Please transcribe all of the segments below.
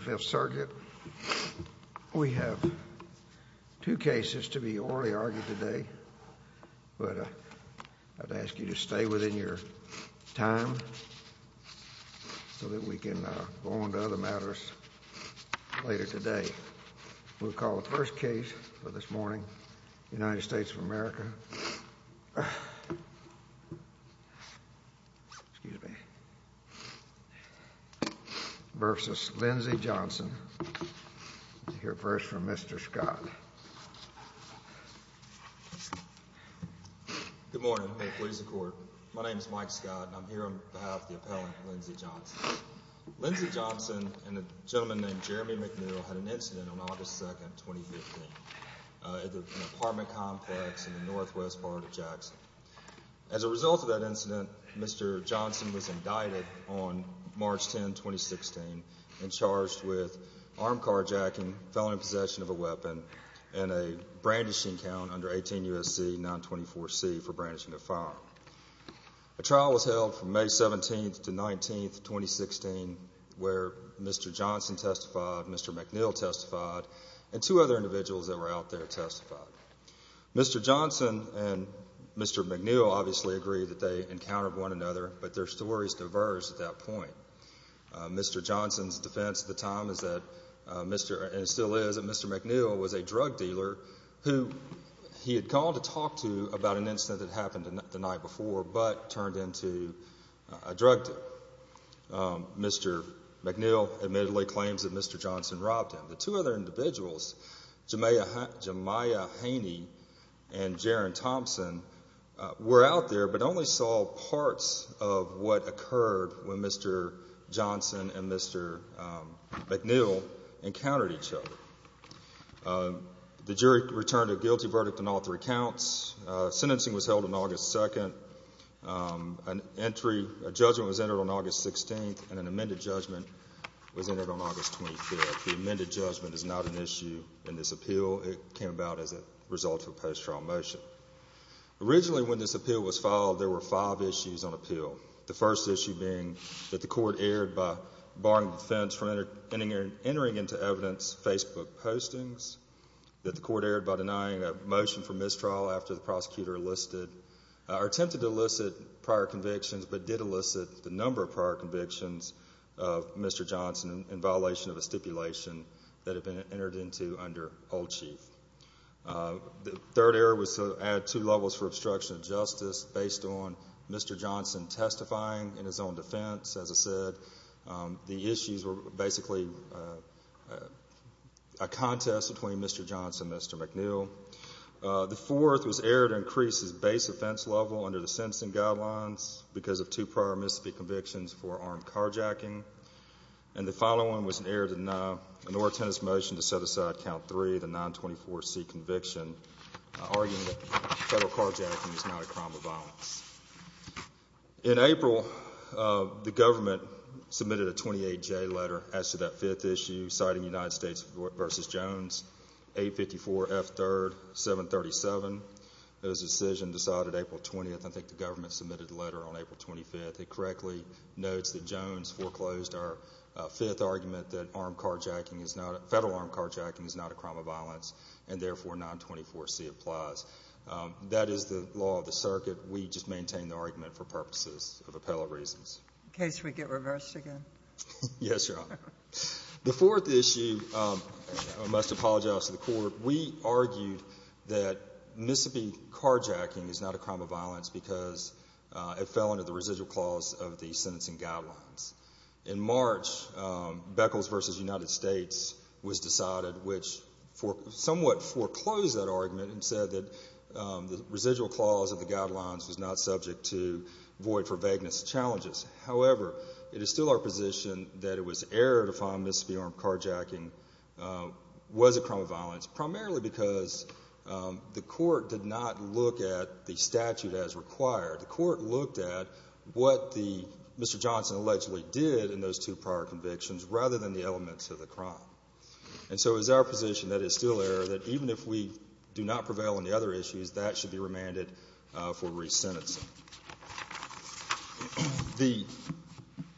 5th Circuit. We have two cases to be orally argued today, but I'd ask you to stay within your time so that we can go on to other matters later today. We'll call the first case for this morning, United States of America excuse me versus Lindsey Johnson. We'll hear first from Mr. Scott. Good morning. My name is Mike Scott and I'm here on behalf of the appellant Lindsey Johnson. Lindsey Johnson and a gentleman named Jeremy McNeil had an incident on August 2, 2015 at an apartment complex in the northwest part of Jackson. As a result of that incident, Mr. Johnson was indicted on March 10, 2016 and charged with armed carjacking, felony possession of a weapon, and a brandishing count under 18 U.S.C. 924C for brandishing a firearm. A trial was held from May 17 to 19, 2016, where Mr. Johnson testified, Mr. McNeil testified, and two other individuals that were out there testified. Mr. Johnson and Mr. McNeil obviously agreed that they encountered one another, but their stories diverged at that point. Mr. Johnson's defense at the time is that Mr. and still is that Mr. McNeil was a drug dealer who he had called to talk to about an incident that happened the night before but turned into a drug deal. Mr. McNeil admittedly claims that Mr. Johnson robbed him. The two other individuals, Jamiah Haney and Jaron Thompson, were out there but only saw parts of what occurred when Mr. Johnson and Mr. McNeil encountered each other. The jury returned a guilty verdict on all three counts. Sentencing was held on August 2nd. A judgment was entered on August 16th, and an amended judgment was entered on August 25th. The amended judgment is not an issue in this appeal. It came about as a result of a post-trial motion. Originally, when this appeal was filed, there were five issues on appeal, the first issue being that the court erred by barring defense from entering into evidence Facebook postings, that the court erred by denying a motion for mistrial after the prosecutor listed or attempted to elicit prior convictions but did elicit the number of prior convictions of Mr. Johnson in violation of a stipulation that had been entered into under old chief. The third error was to add two levels for obstruction of justice based on Mr. Johnson testifying in his own defense. As I said, the issues were basically a contest between Mr. Johnson and Mr. McNeil. The fourth was error to increase his base offense level under the sentencing guidelines because of two prior misdemeanor convictions for armed carjacking, and the following was an error to deny an orator's motion to set aside count three, the 924C conviction, arguing that federal carjacking is not a crime of violence. In April, the government submitted a 28J letter as to that fifth issue, citing United States v. Jones, 854 F. 3rd, 737. It was a decision decided April 20th. I think the government submitted a letter on April 25th. It correctly notes that Jones foreclosed our fifth argument that federal armed carjacking is not a crime of violence, and therefore 924C applies. That is the law of the circuit. We just maintain the argument for purposes of appellate reasons. In case we get reversed again? Yes, Your Honor. The fourth issue, I must apologize to the Court, we argued that Mississippi carjacking is not a crime of violence because it fell under the residual clause of the sentencing guidelines. In March, Beckles v. United States was decided, which somewhat foreclosed that argument and said that the residual clause of the guidelines was not subject to void for vagueness challenges. However, it is still our position that it was error to find Mississippi armed carjacking was a crime of violence, primarily because the Court did not look at the statute as required. The Court looked at what Mr. Johnson allegedly did in those two prior convictions rather than elements of the crime. And so it is our position that it is still error that even if we do not prevail on the other issues, that should be remanded for re-sentencing. The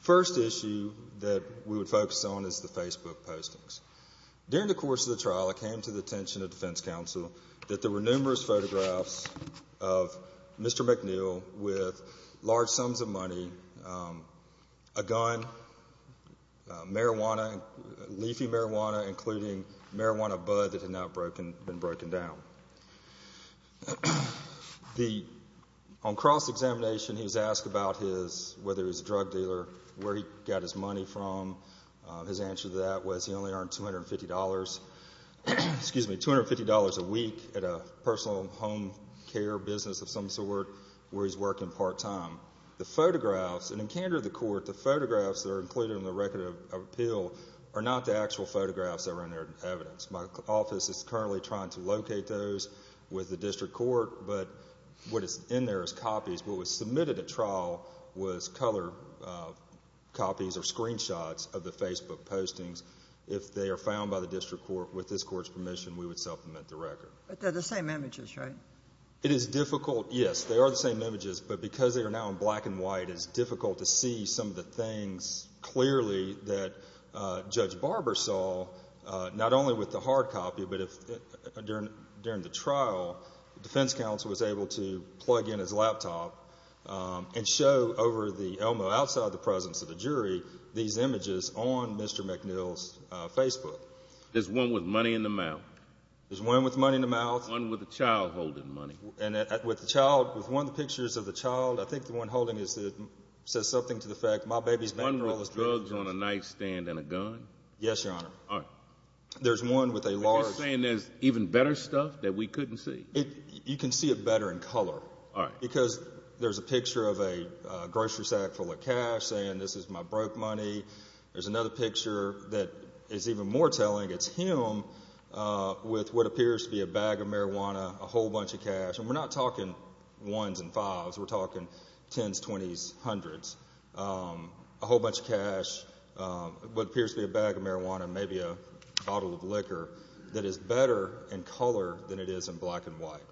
first issue that we would focus on is the Facebook postings. During the course of the trial, it came to the attention of defense counsel that there were numerous photographs of Mr. McNeill with large sums of money, a gun, marijuana, leafy marijuana, including marijuana bud that had not been broken down. On cross-examination, he was asked about whether he was a drug dealer, where he got his money from. His answer to that was he only earned $250 a week at a personal home business of some sort, where he is working part-time. The photographs that are included in the record of appeal are not the actual photographs that are in the evidence. My office is currently trying to locate those with the District Court, but what is in there is copies. What was submitted at trial was color copies or screenshots of the Facebook postings. If they are found by the District Court, with this Court's permission, we would supplement the Yes, they are the same images, but because they are now in black and white, it is difficult to see some of the things clearly that Judge Barber saw, not only with the hard copy, but during the trial, defense counsel was able to plug in his laptop and show over the Elmo, outside the presence of the jury, these images on Mr. McNeill's Facebook. There's one with money in the mouth. One with a child holding money. With one of the pictures of the child, I think the one holding it says something to the effect, my baby's been through all this. One with drugs on a nightstand and a gun? Yes, Your Honor. All right. There's one with a large. Are you saying there's even better stuff that we couldn't see? You can see it better in color. All right. Because there's a picture of a grocery sack full of cash saying, this is my broke money. There's another picture that is even more telling. It's him with what appears to be a bag of marijuana, a whole bunch of cash. And we're not talking ones and fives. We're talking tens, twenties, hundreds. A whole bunch of cash, what appears to be a bag of marijuana, maybe a bottle of liquor that is better in color than it is in black and white.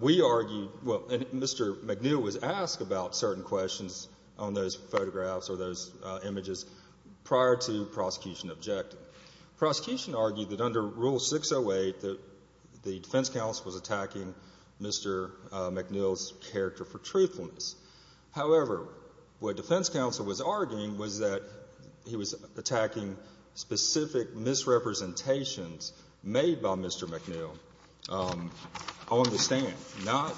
We argue, well, Mr. McNeill was asked about certain questions on those photographs or those images prior to prosecution objecting. Prosecution argued that under Rule 608, the defense counsel was attacking Mr. McNeill's character for truthfulness. However, what defense counsel was arguing was that he was attacking specific misrepresentations made by Mr. McNeill on the stand, not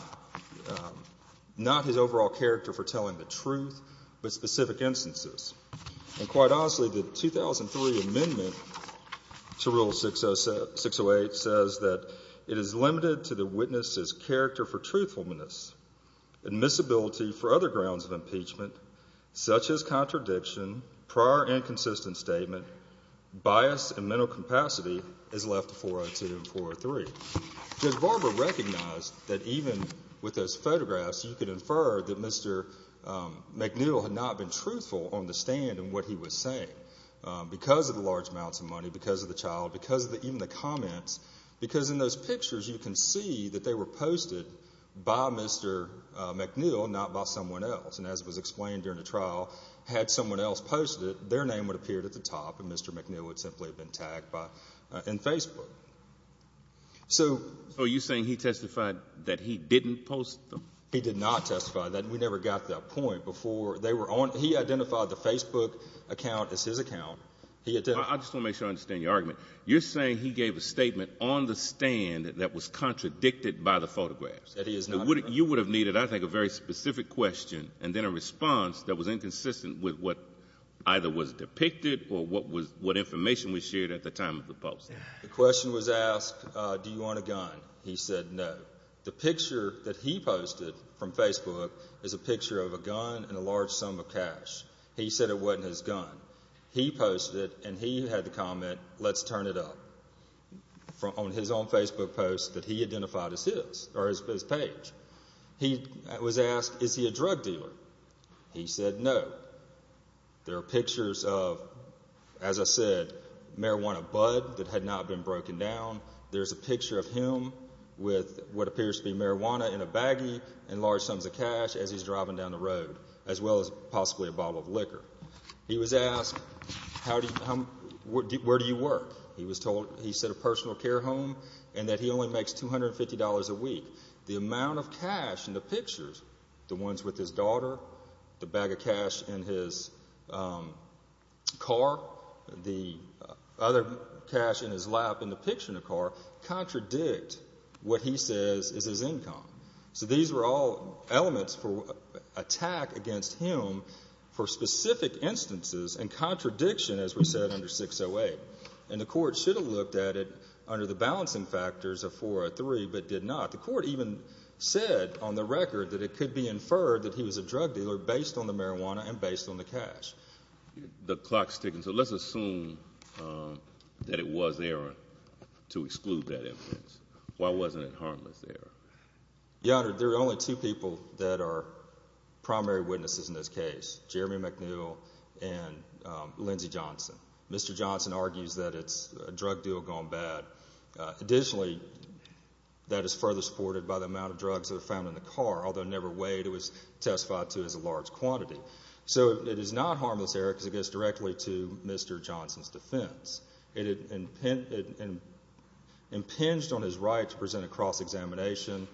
his overall character for telling the truth, but specific instances. And quite honestly, the 2003 amendment to Rule 608 says that it is limited to the witness's character for truthfulness, admissibility for other grounds of impeachment, such as contradiction, prior inconsistent statement, bias, and mental capacity is left to 402 and 403. Judge Barber recognized that even with those photographs, you could infer that Mr. McNeill had not been truthful on the stand in what he was saying because of the large amounts of money, because of the child, because of even the comments. Because in those pictures, you can see that they were posted by Mr. McNeill, not by someone else. And as was explained during the trial, had someone else posted it, their name would have appeared at the top and Mr. McNeill would simply have been tagged in Facebook. So you're saying he testified that he didn't post them? He did not testify. We never got to that point before. He identified the Facebook account as his account. I just want to make sure I understand your argument. You're saying he gave a statement on the stand that was contradicted by the photographs. You would have needed, I think, a very specific question and then a response that was inconsistent with what either was depicted or what information was shared at the time of the posting. The question was asked, do you want a gun? He said no. The picture that he posted from Facebook is a picture of a gun and a large sum of cash. He said it wasn't his gun. He posted it and he had the comment, let's turn it up, on his own Facebook post that he identified as his, or his page. He was asked, is he a drug dealer? He said no. There are pictures of, as I said, marijuana bud that had not been broken down. There's a picture of him with what appears to be marijuana in a baggie and large sums of cash as he's driving down the road, as well as possibly a bottle of liquor. He was asked, where do you work? He said a personal care home and that he only makes $250 a week. The amount of cash in the pictures, the ones with his daughter, the bag of cash in his car, the other cash in his lap in the picture in the car, contradict what he says is his income. So these were all elements for attack against him for specific instances and contradiction, as we said, under 608. And the court should have looked at it under the balancing factors of 403, but did not. The court even said on the record that it could be inferred that he was a drug dealer based on the marijuana and based on the cash. The clock's ticking, so let's assume that it was there to exclude that evidence. Why wasn't it harmless there? Your Honor, there are only two people that are primary witnesses in this case, Jeremy McNeil and Lindsey Johnson. Mr. Johnson argues that it's a drug deal gone bad. Additionally, that is further supported by the amount of drugs that are found in the car, although never weighed, it was testified to as a large quantity. So it is not harmless there because it goes directly to Mr. Johnson's defense. It impinged on his right to present a cross-examination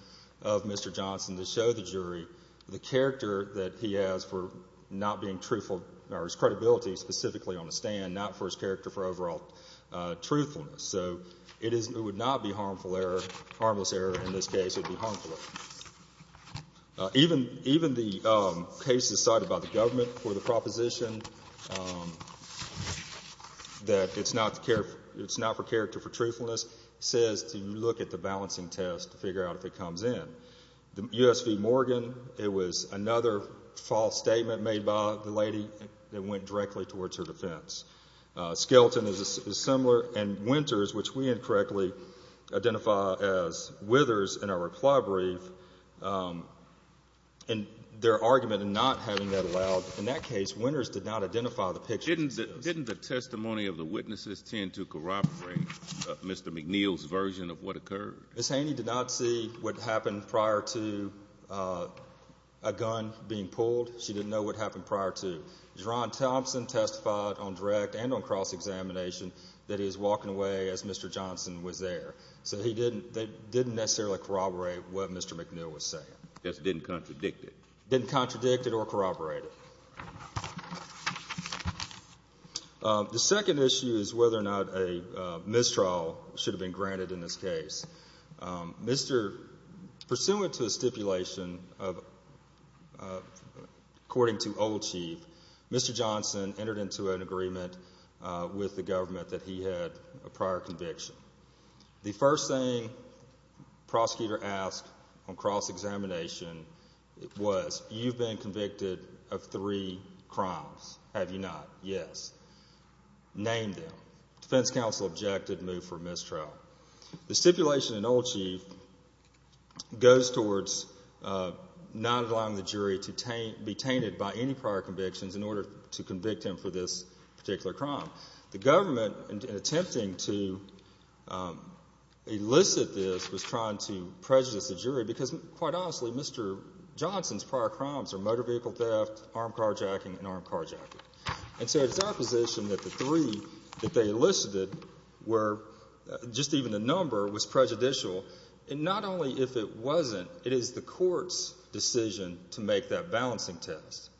of Mr. Johnson to the jury, the character that he has for not being truthful or his credibility specifically on the stand, not for his character for overall truthfulness. So it would not be harmless there in this case. It would be harmful. Even the case decided by the government for the proposition that it's not for character for truthfulness says to look at the balancing test to figure out if it comes in. The U.S. v. Morgan, it was another false statement made by the lady that went directly towards her defense. Skelton is similar, and Winters, which we incorrectly identify as Withers in our reply brief, and their argument in not having that allowed, in that case, Winters did not identify the picture. Didn't the testimony of the witnesses tend to what happened prior to a gun being pulled? She didn't know what happened prior to. Ron Thompson testified on direct and on cross-examination that he was walking away as Mr. Johnson was there. So they didn't necessarily corroborate what Mr. McNeil was saying. Just didn't contradict it. Didn't contradict it or corroborate it. The second issue is whether or not a mistrial should have been granted in this case. Mr., pursuant to a stipulation of, according to Old Chief, Mr. Johnson entered into an agreement with the government that he had a prior conviction. The first thing prosecutor asked on cross-examination was, you've been convicted of three crimes, have you not? Yes. Name them. Defense counsel objected, moved for mistrial. The stipulation in Old Chief goes towards not allowing the jury to be tainted by any prior convictions in order to convict him for this particular crime. The government, in attempting to elicit this, was trying to prejudice the jury because, quite honestly, Mr. Johnson's prior crimes are motor vehicle theft, armed carjacking, and armed carjacking. And so it's our position that the three that they elicited were, just even the number, was prejudicial. And not only if it wasn't, it is the court's decision to make that balancing test.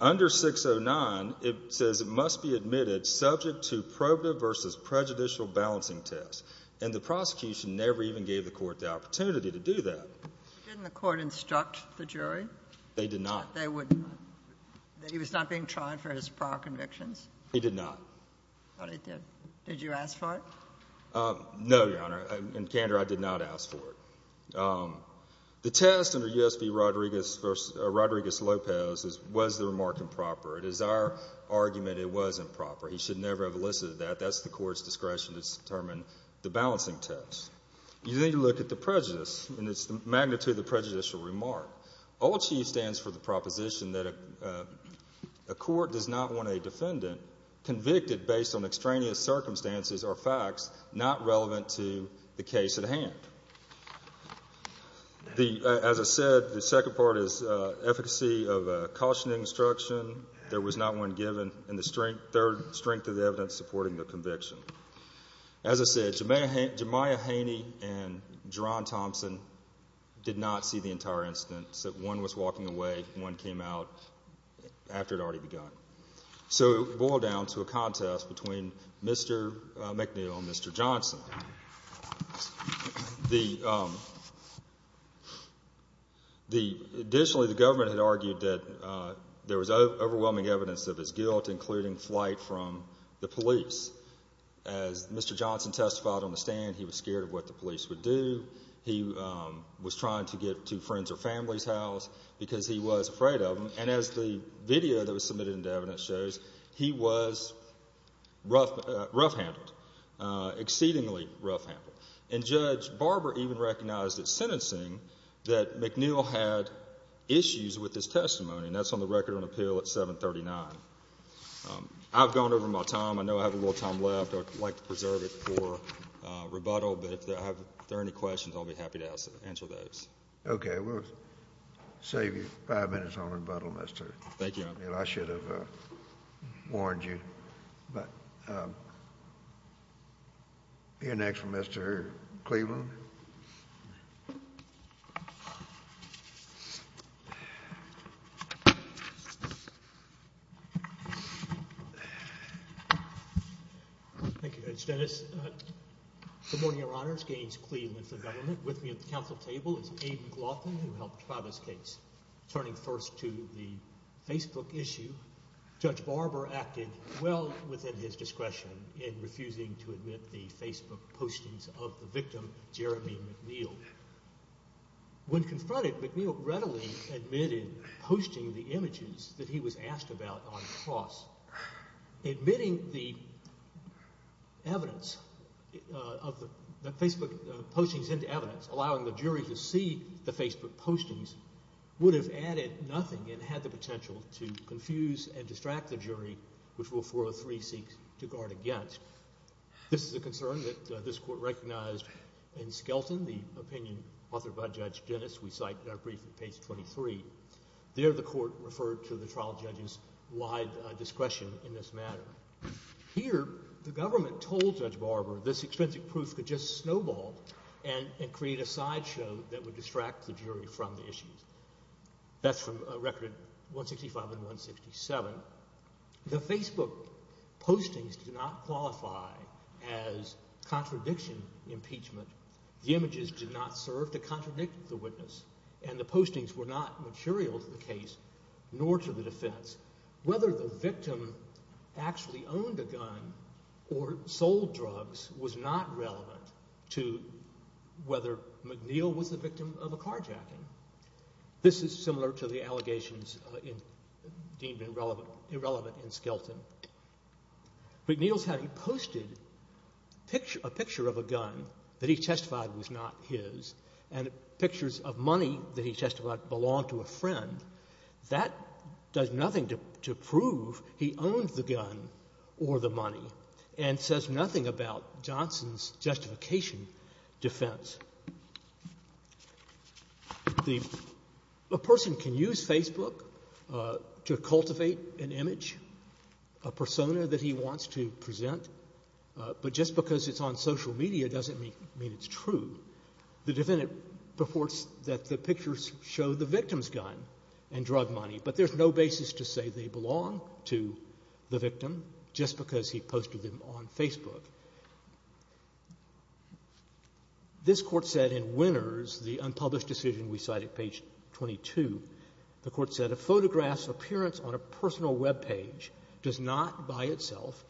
Under 609, it says it must be admitted subject to probative versus prejudicial balancing test. And the prosecution never even gave the court the opportunity to do that. Didn't the court instruct the jury? They did not. That he was not being tried for his prior convictions? He did not. Thought he did. Did you ask for it? No, Your Honor. In candor, I did not ask for it. The test under U.S. v. Rodriguez versus Rodriguez-Lopez was the remark improper. It is our argument it was improper. He should never have elicited that. That's the court's discretion to determine the balancing test. You need to look at the prejudice, and it's the magnitude of the prejudicial remark. OCHIE stands for the proposition that a court does not want a defendant convicted based on extraneous circumstances or facts not relevant to the case at hand. As I said, the second part is efficacy of cautioning instruction. There was not one given. And the third, strength of the evidence supporting the conviction. As I said, Jemiah Haney and Jerron Thompson did not see the entire incident, said one was walking away, one came out after it had already begun. So it boiled down to a contest between Mr. McNeil and Mr. Johnson. Additionally, the government had argued that there was overwhelming evidence of his guilt, including flight from the police. As Mr. Johnson testified on the stand, he was scared of what the police would do. He was trying to get to friends' or family's house because he was afraid of them. And as the video that was submitted into evidence shows, he was rough-handled, exceedingly rough-handled. And Judge Barber even recognized at sentencing that McNeil had issues with his testimony, and that's on the record on appeal at 739. I've gone over my time. I know I have a little time left. I'd like to preserve it for rebuttal. But if there are any questions, I'll be happy to answer those. Okay. We'll save you five minutes on rebuttal, Mr. McNeil. I should have warned you. But you're next, Mr. Cleveland. Thank you, Judge Dennis. Good morning, Your Honors. Gaines Cleveland for the government. With me at the council table is Abe McLaughlin, who helped file this case. Turning first to the Facebook issue, Judge Barber acted well within his discretion in refusing to admit the Facebook postings of the victim, Jeremy McNeil. When confronted, McNeil readily admitted posting the images that he was asked about on the cross. Admitting the evidence of the Facebook postings into evidence, allowing the jury to see the Facebook postings, would have added nothing and had the potential to confuse and distract the jury, which Rule 403 seeks to guard against. This is a concern that this court recognized in Skelton, the opinion authored by Judge Dennis, we cite in our brief at page 23. There, the court referred to the trial judge's wide discretion in this matter. Here, the government told Judge Barber this extrinsic proof could just snowball and create a sideshow that would distract the jury from the issues. That's from record 165 and 167. The Facebook postings did not qualify as contradiction impeachment. The images did not serve to contradict the witness and the postings were not material to the case, nor to the defense. Whether the victim actually owned a gun or sold drugs was not relevant to whether McNeil was the victim of a carjacking. This is similar to the allegations deemed irrelevant in Skelton. McNeil's had posted a picture of a gun that he testified was not his and pictures of money that he testified belonged to a friend. That does nothing to prove he owned the gun or the money and says nothing about Johnson's justification defense. A person can use Facebook to cultivate an image, a persona that he wants to present, but just because it's on social media doesn't mean it's true. The defendant reports that the victim just because he posted them on Facebook. This Court said in Winners, the unpublished decision we cite at page 22, the Court said, a photograph's appearance on a personal webpage does not by itself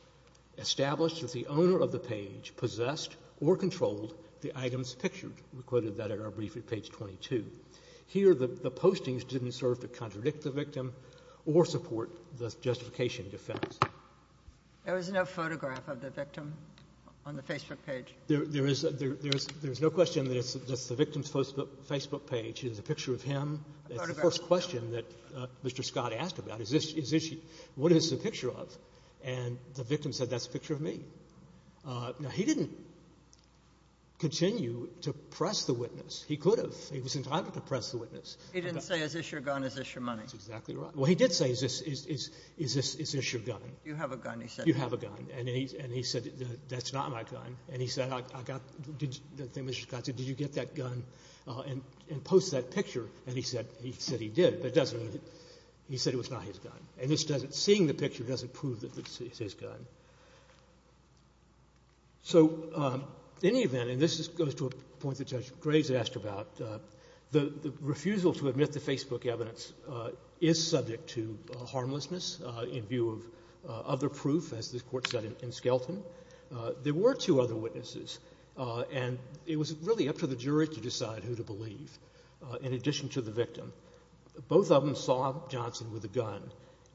establish that the owner of the page possessed or controlled the items pictured. We quoted that in our brief at page 22. Here, the postings didn't serve to contradict the victim or support the justification defense. There was no photograph of the victim on the Facebook page? There is no question that it's the victim's Facebook page. There's a picture of him. That's the first question that Mr. Scott asked about. Is this his issue? What is the picture of? And the victim said, that's a picture of me. Now, he didn't continue to press the witness. He could have. He was entitled to press the witness. He didn't say, is this your gun, is this your money? Well, he did say, is this your gun? You have a gun, he said. You have a gun. And he said, that's not my gun. And he said, did you get that gun and post that picture? And he said he did, but he said it was not his gun. And seeing the picture doesn't prove that it's his gun. So in any event, and this goes to a point that Judge Graves asked about, the refusal to admit to Facebook evidence is subject to harmlessness in view of other proof, as this Court said in Skelton. There were two other witnesses, and it was really up to the jury to decide who to believe, in addition to the victim. Both of them saw Johnson with a gun.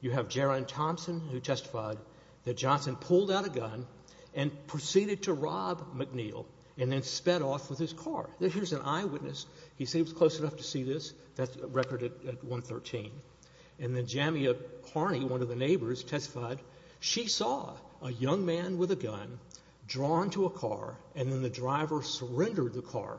You have Jaron Thompson, who testified that Johnson pulled out a gun and proceeded to rob McNeil and then sped off with his car. Here's an eyewitness. He said he was close enough to see this. That's a record at 113. And then Jamia Carney, one of the neighbors, testified she saw a young man with a gun drawn to a car, and then the driver surrendered the car.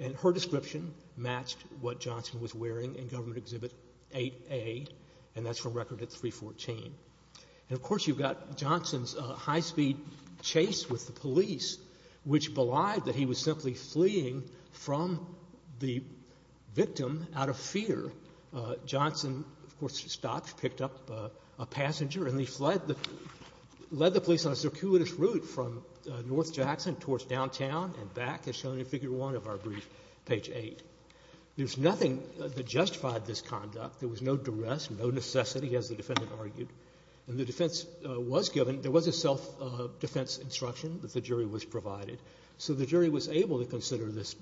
And her description matched what Johnson was wearing in Government Exhibit 8A, and that's from record at 314. And, of course, you've got Johnson's high-speed chase with the police, which belied that he was simply fleeing from the victim out of fear. Johnson, of course, stopped, picked up a passenger, and he led the police on a circuitous route from North Jackson towards downtown and back, as shown in Figure 1 of our brief, page 8. There's nothing that justified this conduct. There was no duress, no necessity, as the defendant argued. And the defense was given. There was a self-defense instruction that the jury was provided, so the jury was able to consider this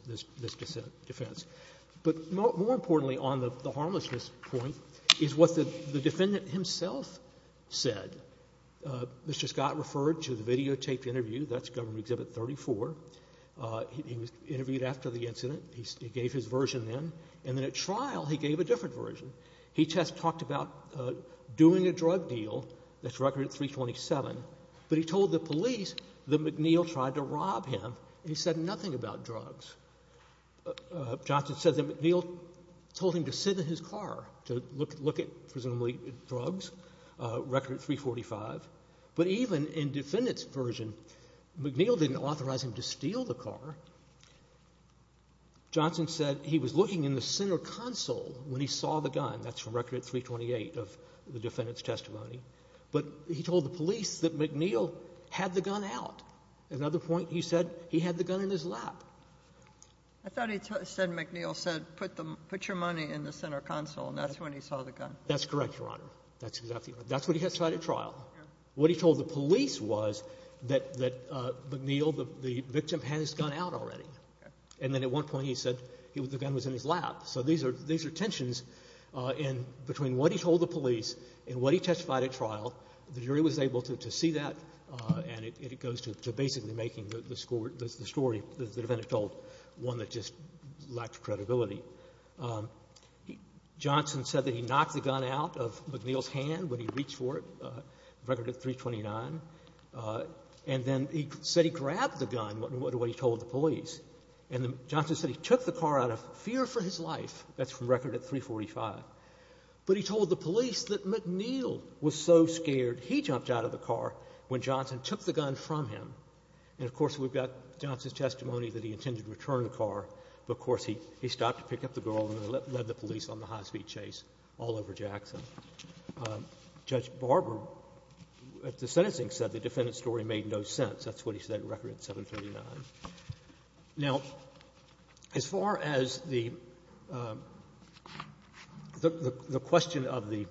defense. But more importantly, on the harmlessness point, is what the defendant himself said. Mr. Scott referred to the videotaped interview. That's Government Exhibit 34. He was interviewed after the incident. He gave his version then, and then at trial, he gave a different version. He just talked about doing a drug deal. That's record at 327. But he told the police that McNeil tried to rob him, and he said nothing about drugs. Johnson said that McNeil told him to sit in his car to look at, presumably, drugs, record at 345. But even in defendant's version, McNeil didn't authorize him to steal the car. Johnson said he was looking in the center console when he saw the gun. That's from record at 328 of the defendant's testimony. But he told the police that McNeil had the gun out. At another point, he said he had the gun in his lap. I thought he said McNeil said, put your money in the center console, and that's when he saw the gun. That's correct, Your Honor. That's exactly right. That's what he testified at trial. What he told the police was that McNeil, the victim, had his gun out already. And then at one point, he said the gun was in his lap. So these are tensions between what he told the police and what he testified at trial. The jury was able to see that, and it goes to basically making the story, the defendant told, one that just lacked credibility. Johnson said that he knocked the gun out of McNeil's hand when he reached for record at 329. And then he said he grabbed the gun, what he told the police. And Johnson said he took the car out of fear for his life. That's from record at 345. But he told the police that McNeil was so scared, he jumped out of the car when Johnson took the gun from him. And, of course, we've got Johnson's testimony that he intended to return the car. But, of course, he stopped to pick up the girl, and he led the police on the high-speed chase all over Jackson. Judge Barber, at the sentencing, said the defendant's story made no sense. That's what he said in record at 739. Now, as far as the question of the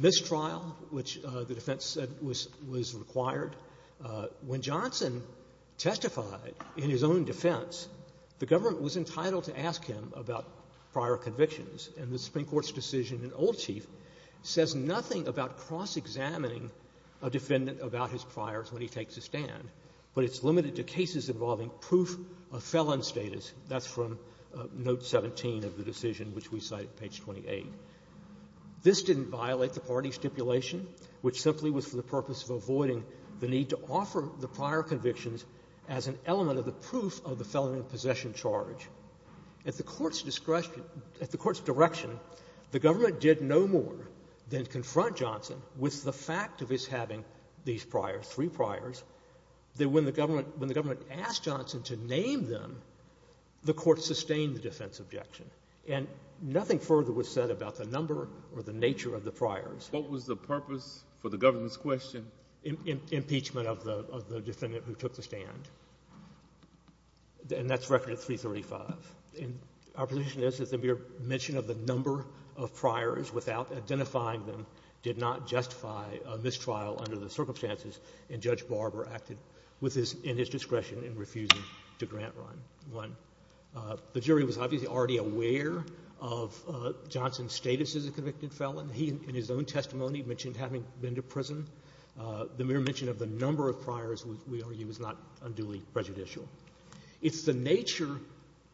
mistrial, which the defense said was required, when Johnson testified in his own defense, the government was entitled to ask him about prior convictions. And the Supreme Court's decision in Old Chief says nothing about cross-examining a defendant about his priors when he takes a stand. But it's limited to cases involving proof of felon status. That's from Note 17 of the decision, which we cite at page 28. This didn't violate the party stipulation, which simply was for the purpose of avoiding the need to offer the prior convictions as an At the Court's discretion — at the Court's direction, the government did no more than confront Johnson with the fact of his having these priors, three priors, that when the government — when the government asked Johnson to name them, the Court sustained the defense objection. And nothing further was said about the number or the nature of the priors. What was the purpose for the government's question? Impeachment of the defendant who took the stand. And that's record at 335. Our position is that the mere mention of the number of priors without identifying them did not justify a mistrial under the circumstances in which Judge Barber acted with his — in his discretion in refusing to grant one. The jury was obviously already aware of Johnson's status as a convicted felon. He, in his own testimony, mentioned having been to prison. The mere mention of the number of priors, we argue, is not unduly prejudicial. It's the nature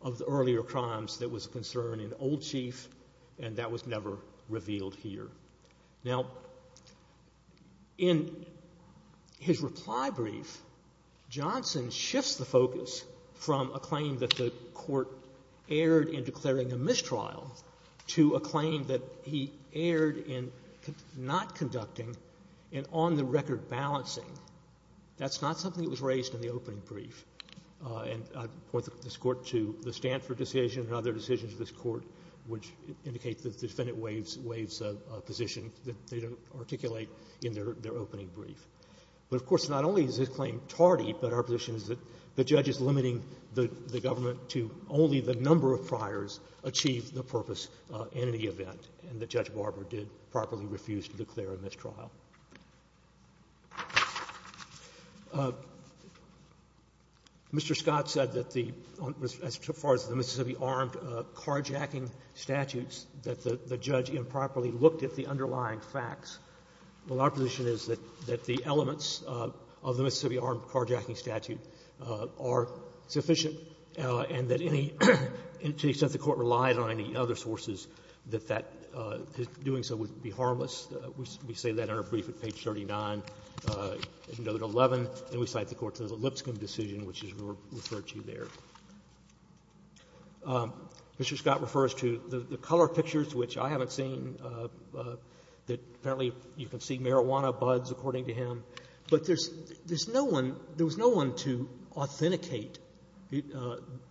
of the earlier crimes that was a concern in Old Chief, and that was never revealed here. Now, in his reply brief, Johnson shifts the focus from a claim that the Court erred in declaring a mistrial to a claim that he erred in not conducting an on-the-record balancing. That's not something that was raised in the opening brief. And I point this Court to the Stanford decision and other decisions of this Court which indicate that the defendant waives a position that they don't articulate in their opening brief. But, of course, not only is his claim tardy, but our position is that the judge is limiting the government to only the number of priors achieved the purpose in the event, and that Judge Barber did properly refuse to declare a mistrial. Mr. Scott said that the — as far as the Mississippi armed carjacking statutes, that the judge improperly looked at the underlying facts. Well, our position is that the elements of the Mississippi armed carjacking statute are sufficient and that any — to the extent the Court relied on any other sources, that that — doing so would be harmless. We say that in our brief at page 39, note 11, and we cite the Court's Lipscomb decision, which is referred to there. Mr. Scott refers to the color pictures, which I haven't seen, that apparently you can see marijuana buds, according to him. But there's no one — there was no one to authenticate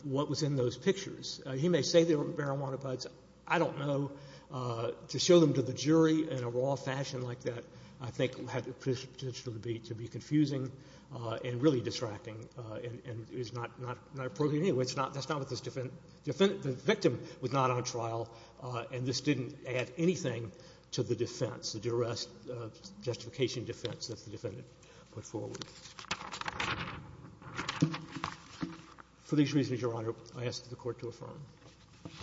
what was in those pictures. He may say there were marijuana buds. I don't know. To show them to the jury in a raw fashion like that, I think, had the potential to be — to be confusing and really distracting and is not appropriate. Anyway, that's not what this defendant — the victim was not on trial, and this didn't add anything to the defense, the duress, justification defense that the defendant put forward. For these reasons, Your Honor, I ask that the Court to affirm.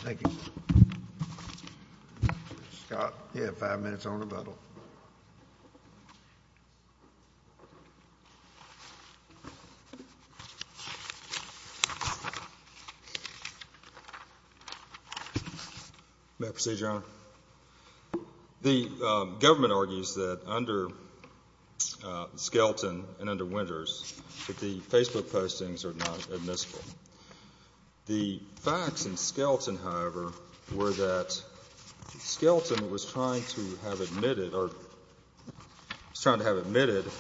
Thank you. Mr. Scott, you have five minutes on rebuttal. May I proceed, Your Honor? The government argues that under Skelton and under Winters that the Facebook and Skelton, however, were that Skelton was trying to have admitted — or was trying to have admitted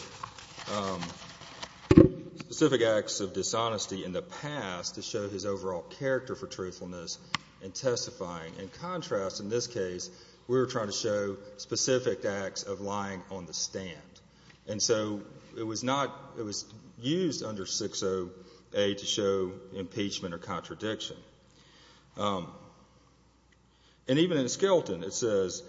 specific acts of dishonesty in the past to show his overall character for truthfulness in testifying. In contrast, in this case, we were trying to show specific acts of lying on the stand. And so it was not — it was used under 60A to show impeachment or contradiction. And even in Skelton, it says,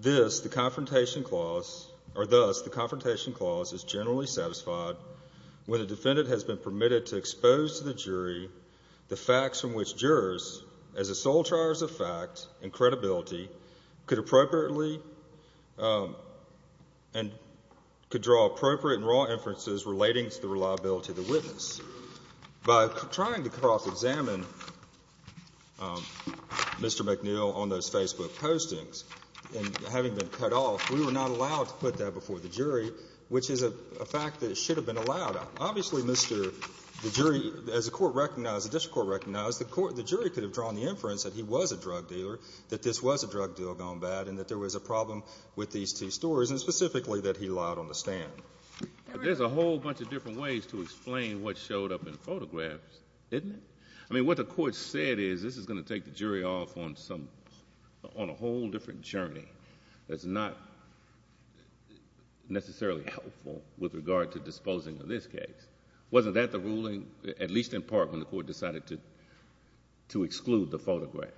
this, the confrontation clause — or thus, the confrontation clause is generally satisfied when a defendant has been permitted to expose to the jury the facts from which jurors, as a sole charge of fact and credibility, could appropriately and could draw appropriate and raw inferences relating to the reliability of the witness. By trying to cross-examine Mr. McNeil on those Facebook postings and having been cut off, we were not allowed to put that before the jury, which is a fact that it should have been allowed. Obviously, Mr. — the jury — as the Court recognized, the district court recognized, the jury could have drawn the inference that he was a drug dealer, that this was a drug deal gone bad, and that there was a problem with these two stories, and specifically that he lied on the stand. But there's a whole bunch of different ways to explain what showed up in photographs, isn't it? I mean, what the Court said is, this is going to take the jury off on some — on a whole different journey that's not necessarily helpful with regard to disposing of this case. Wasn't that the ruling, at least in part, when the Court decided to exclude the photographs?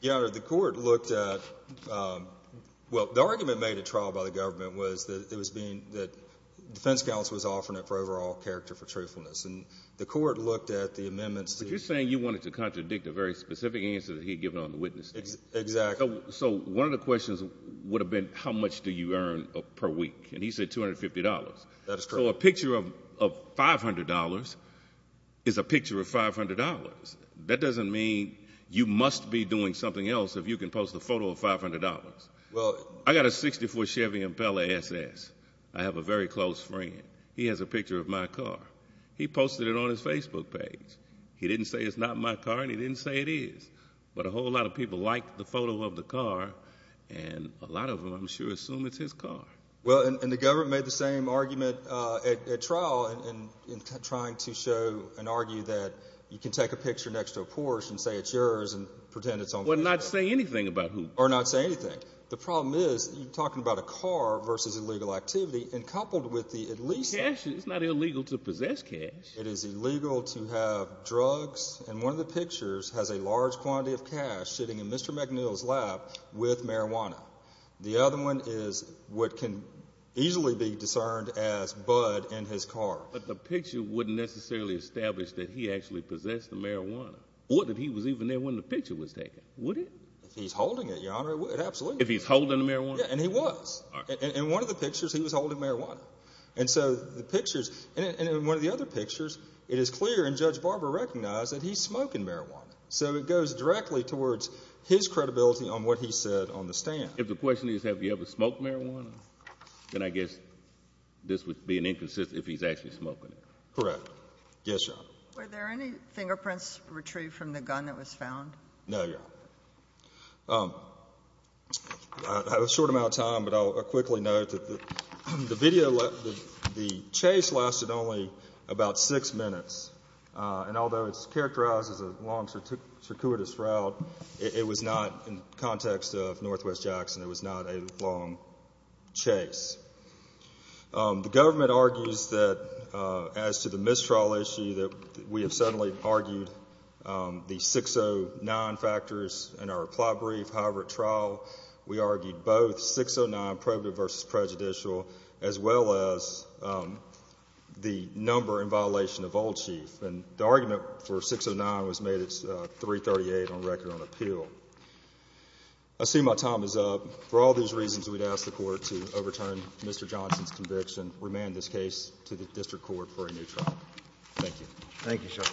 Your Honor, the Court looked at — well, the argument made at trial by the government was that it was being — that the defense counsel was offering it for overall character for truthfulness. And the Court looked at the amendments to — But you're saying you wanted to contradict a very specific answer that he had given on the witness stand? Exactly. So one of the questions would have been, how much do you earn per week? And he said $250. That is correct. So a picture of $500 is a picture of $500. That doesn't mean you must be doing something else if you can post a photo of $500. Well — I got a 64 Chevy Impala SS. I have a very close friend. He has a picture of my car. He posted it on his Facebook page. He didn't say it's not my car, and he didn't say it is. But a whole lot of people liked the photo of the car, and a lot of them, I'm sure, assume it's his car. Well, and the government made the same argument at trial in trying to show and argue that you can take a picture next to a Porsche and say it's yours and pretend it's on — Well, not say anything about who — Or not say anything. The problem is, you're talking about a car versus illegal activity, and coupled with the at least — Cash — it's not illegal to possess cash. It is illegal to have drugs, and one of the pictures has a large quantity of cash sitting in Mr. McNeil's lap with marijuana. The other one is what can easily be discerned as bud in his car. But the picture wouldn't necessarily establish that he actually possessed the marijuana, or that he was even there when the picture was taken, would it? If he's holding it, Your Honor, it absolutely — If he's holding the marijuana? Yeah, and he was. In one of the pictures, he was holding marijuana. And so the pictures — and in one of the other pictures, it is clear, and Judge Barber recognized, that he's smoking marijuana. So it goes directly towards his credibility on what he said on the stand. If the question is, have you ever smoked marijuana, then I guess this would be an inconsistent if he's actually smoking it. Correct. Yes, Your Honor. No, Your Honor. I have a short amount of time, but I'll quickly note that the chase lasted only about six minutes, and although it's characterized as a long, circuitous route, it was not — in the context of Northwest Jackson, it was not a long chase. The government argues that, as to the mistrial issue, that we have suddenly argued the 609 factors in our plea brief. However, at trial, we argued both 609, probative versus prejudicial, as well as the number in violation of Old Chief. And the argument for 609 was made at 338 on record on appeal. I assume my time is up. For all these reasons, we'd ask the Court to overturn Mr. Johnson's conviction, remand this case to the District Court for a new trial. Thank you. Thank you, sir.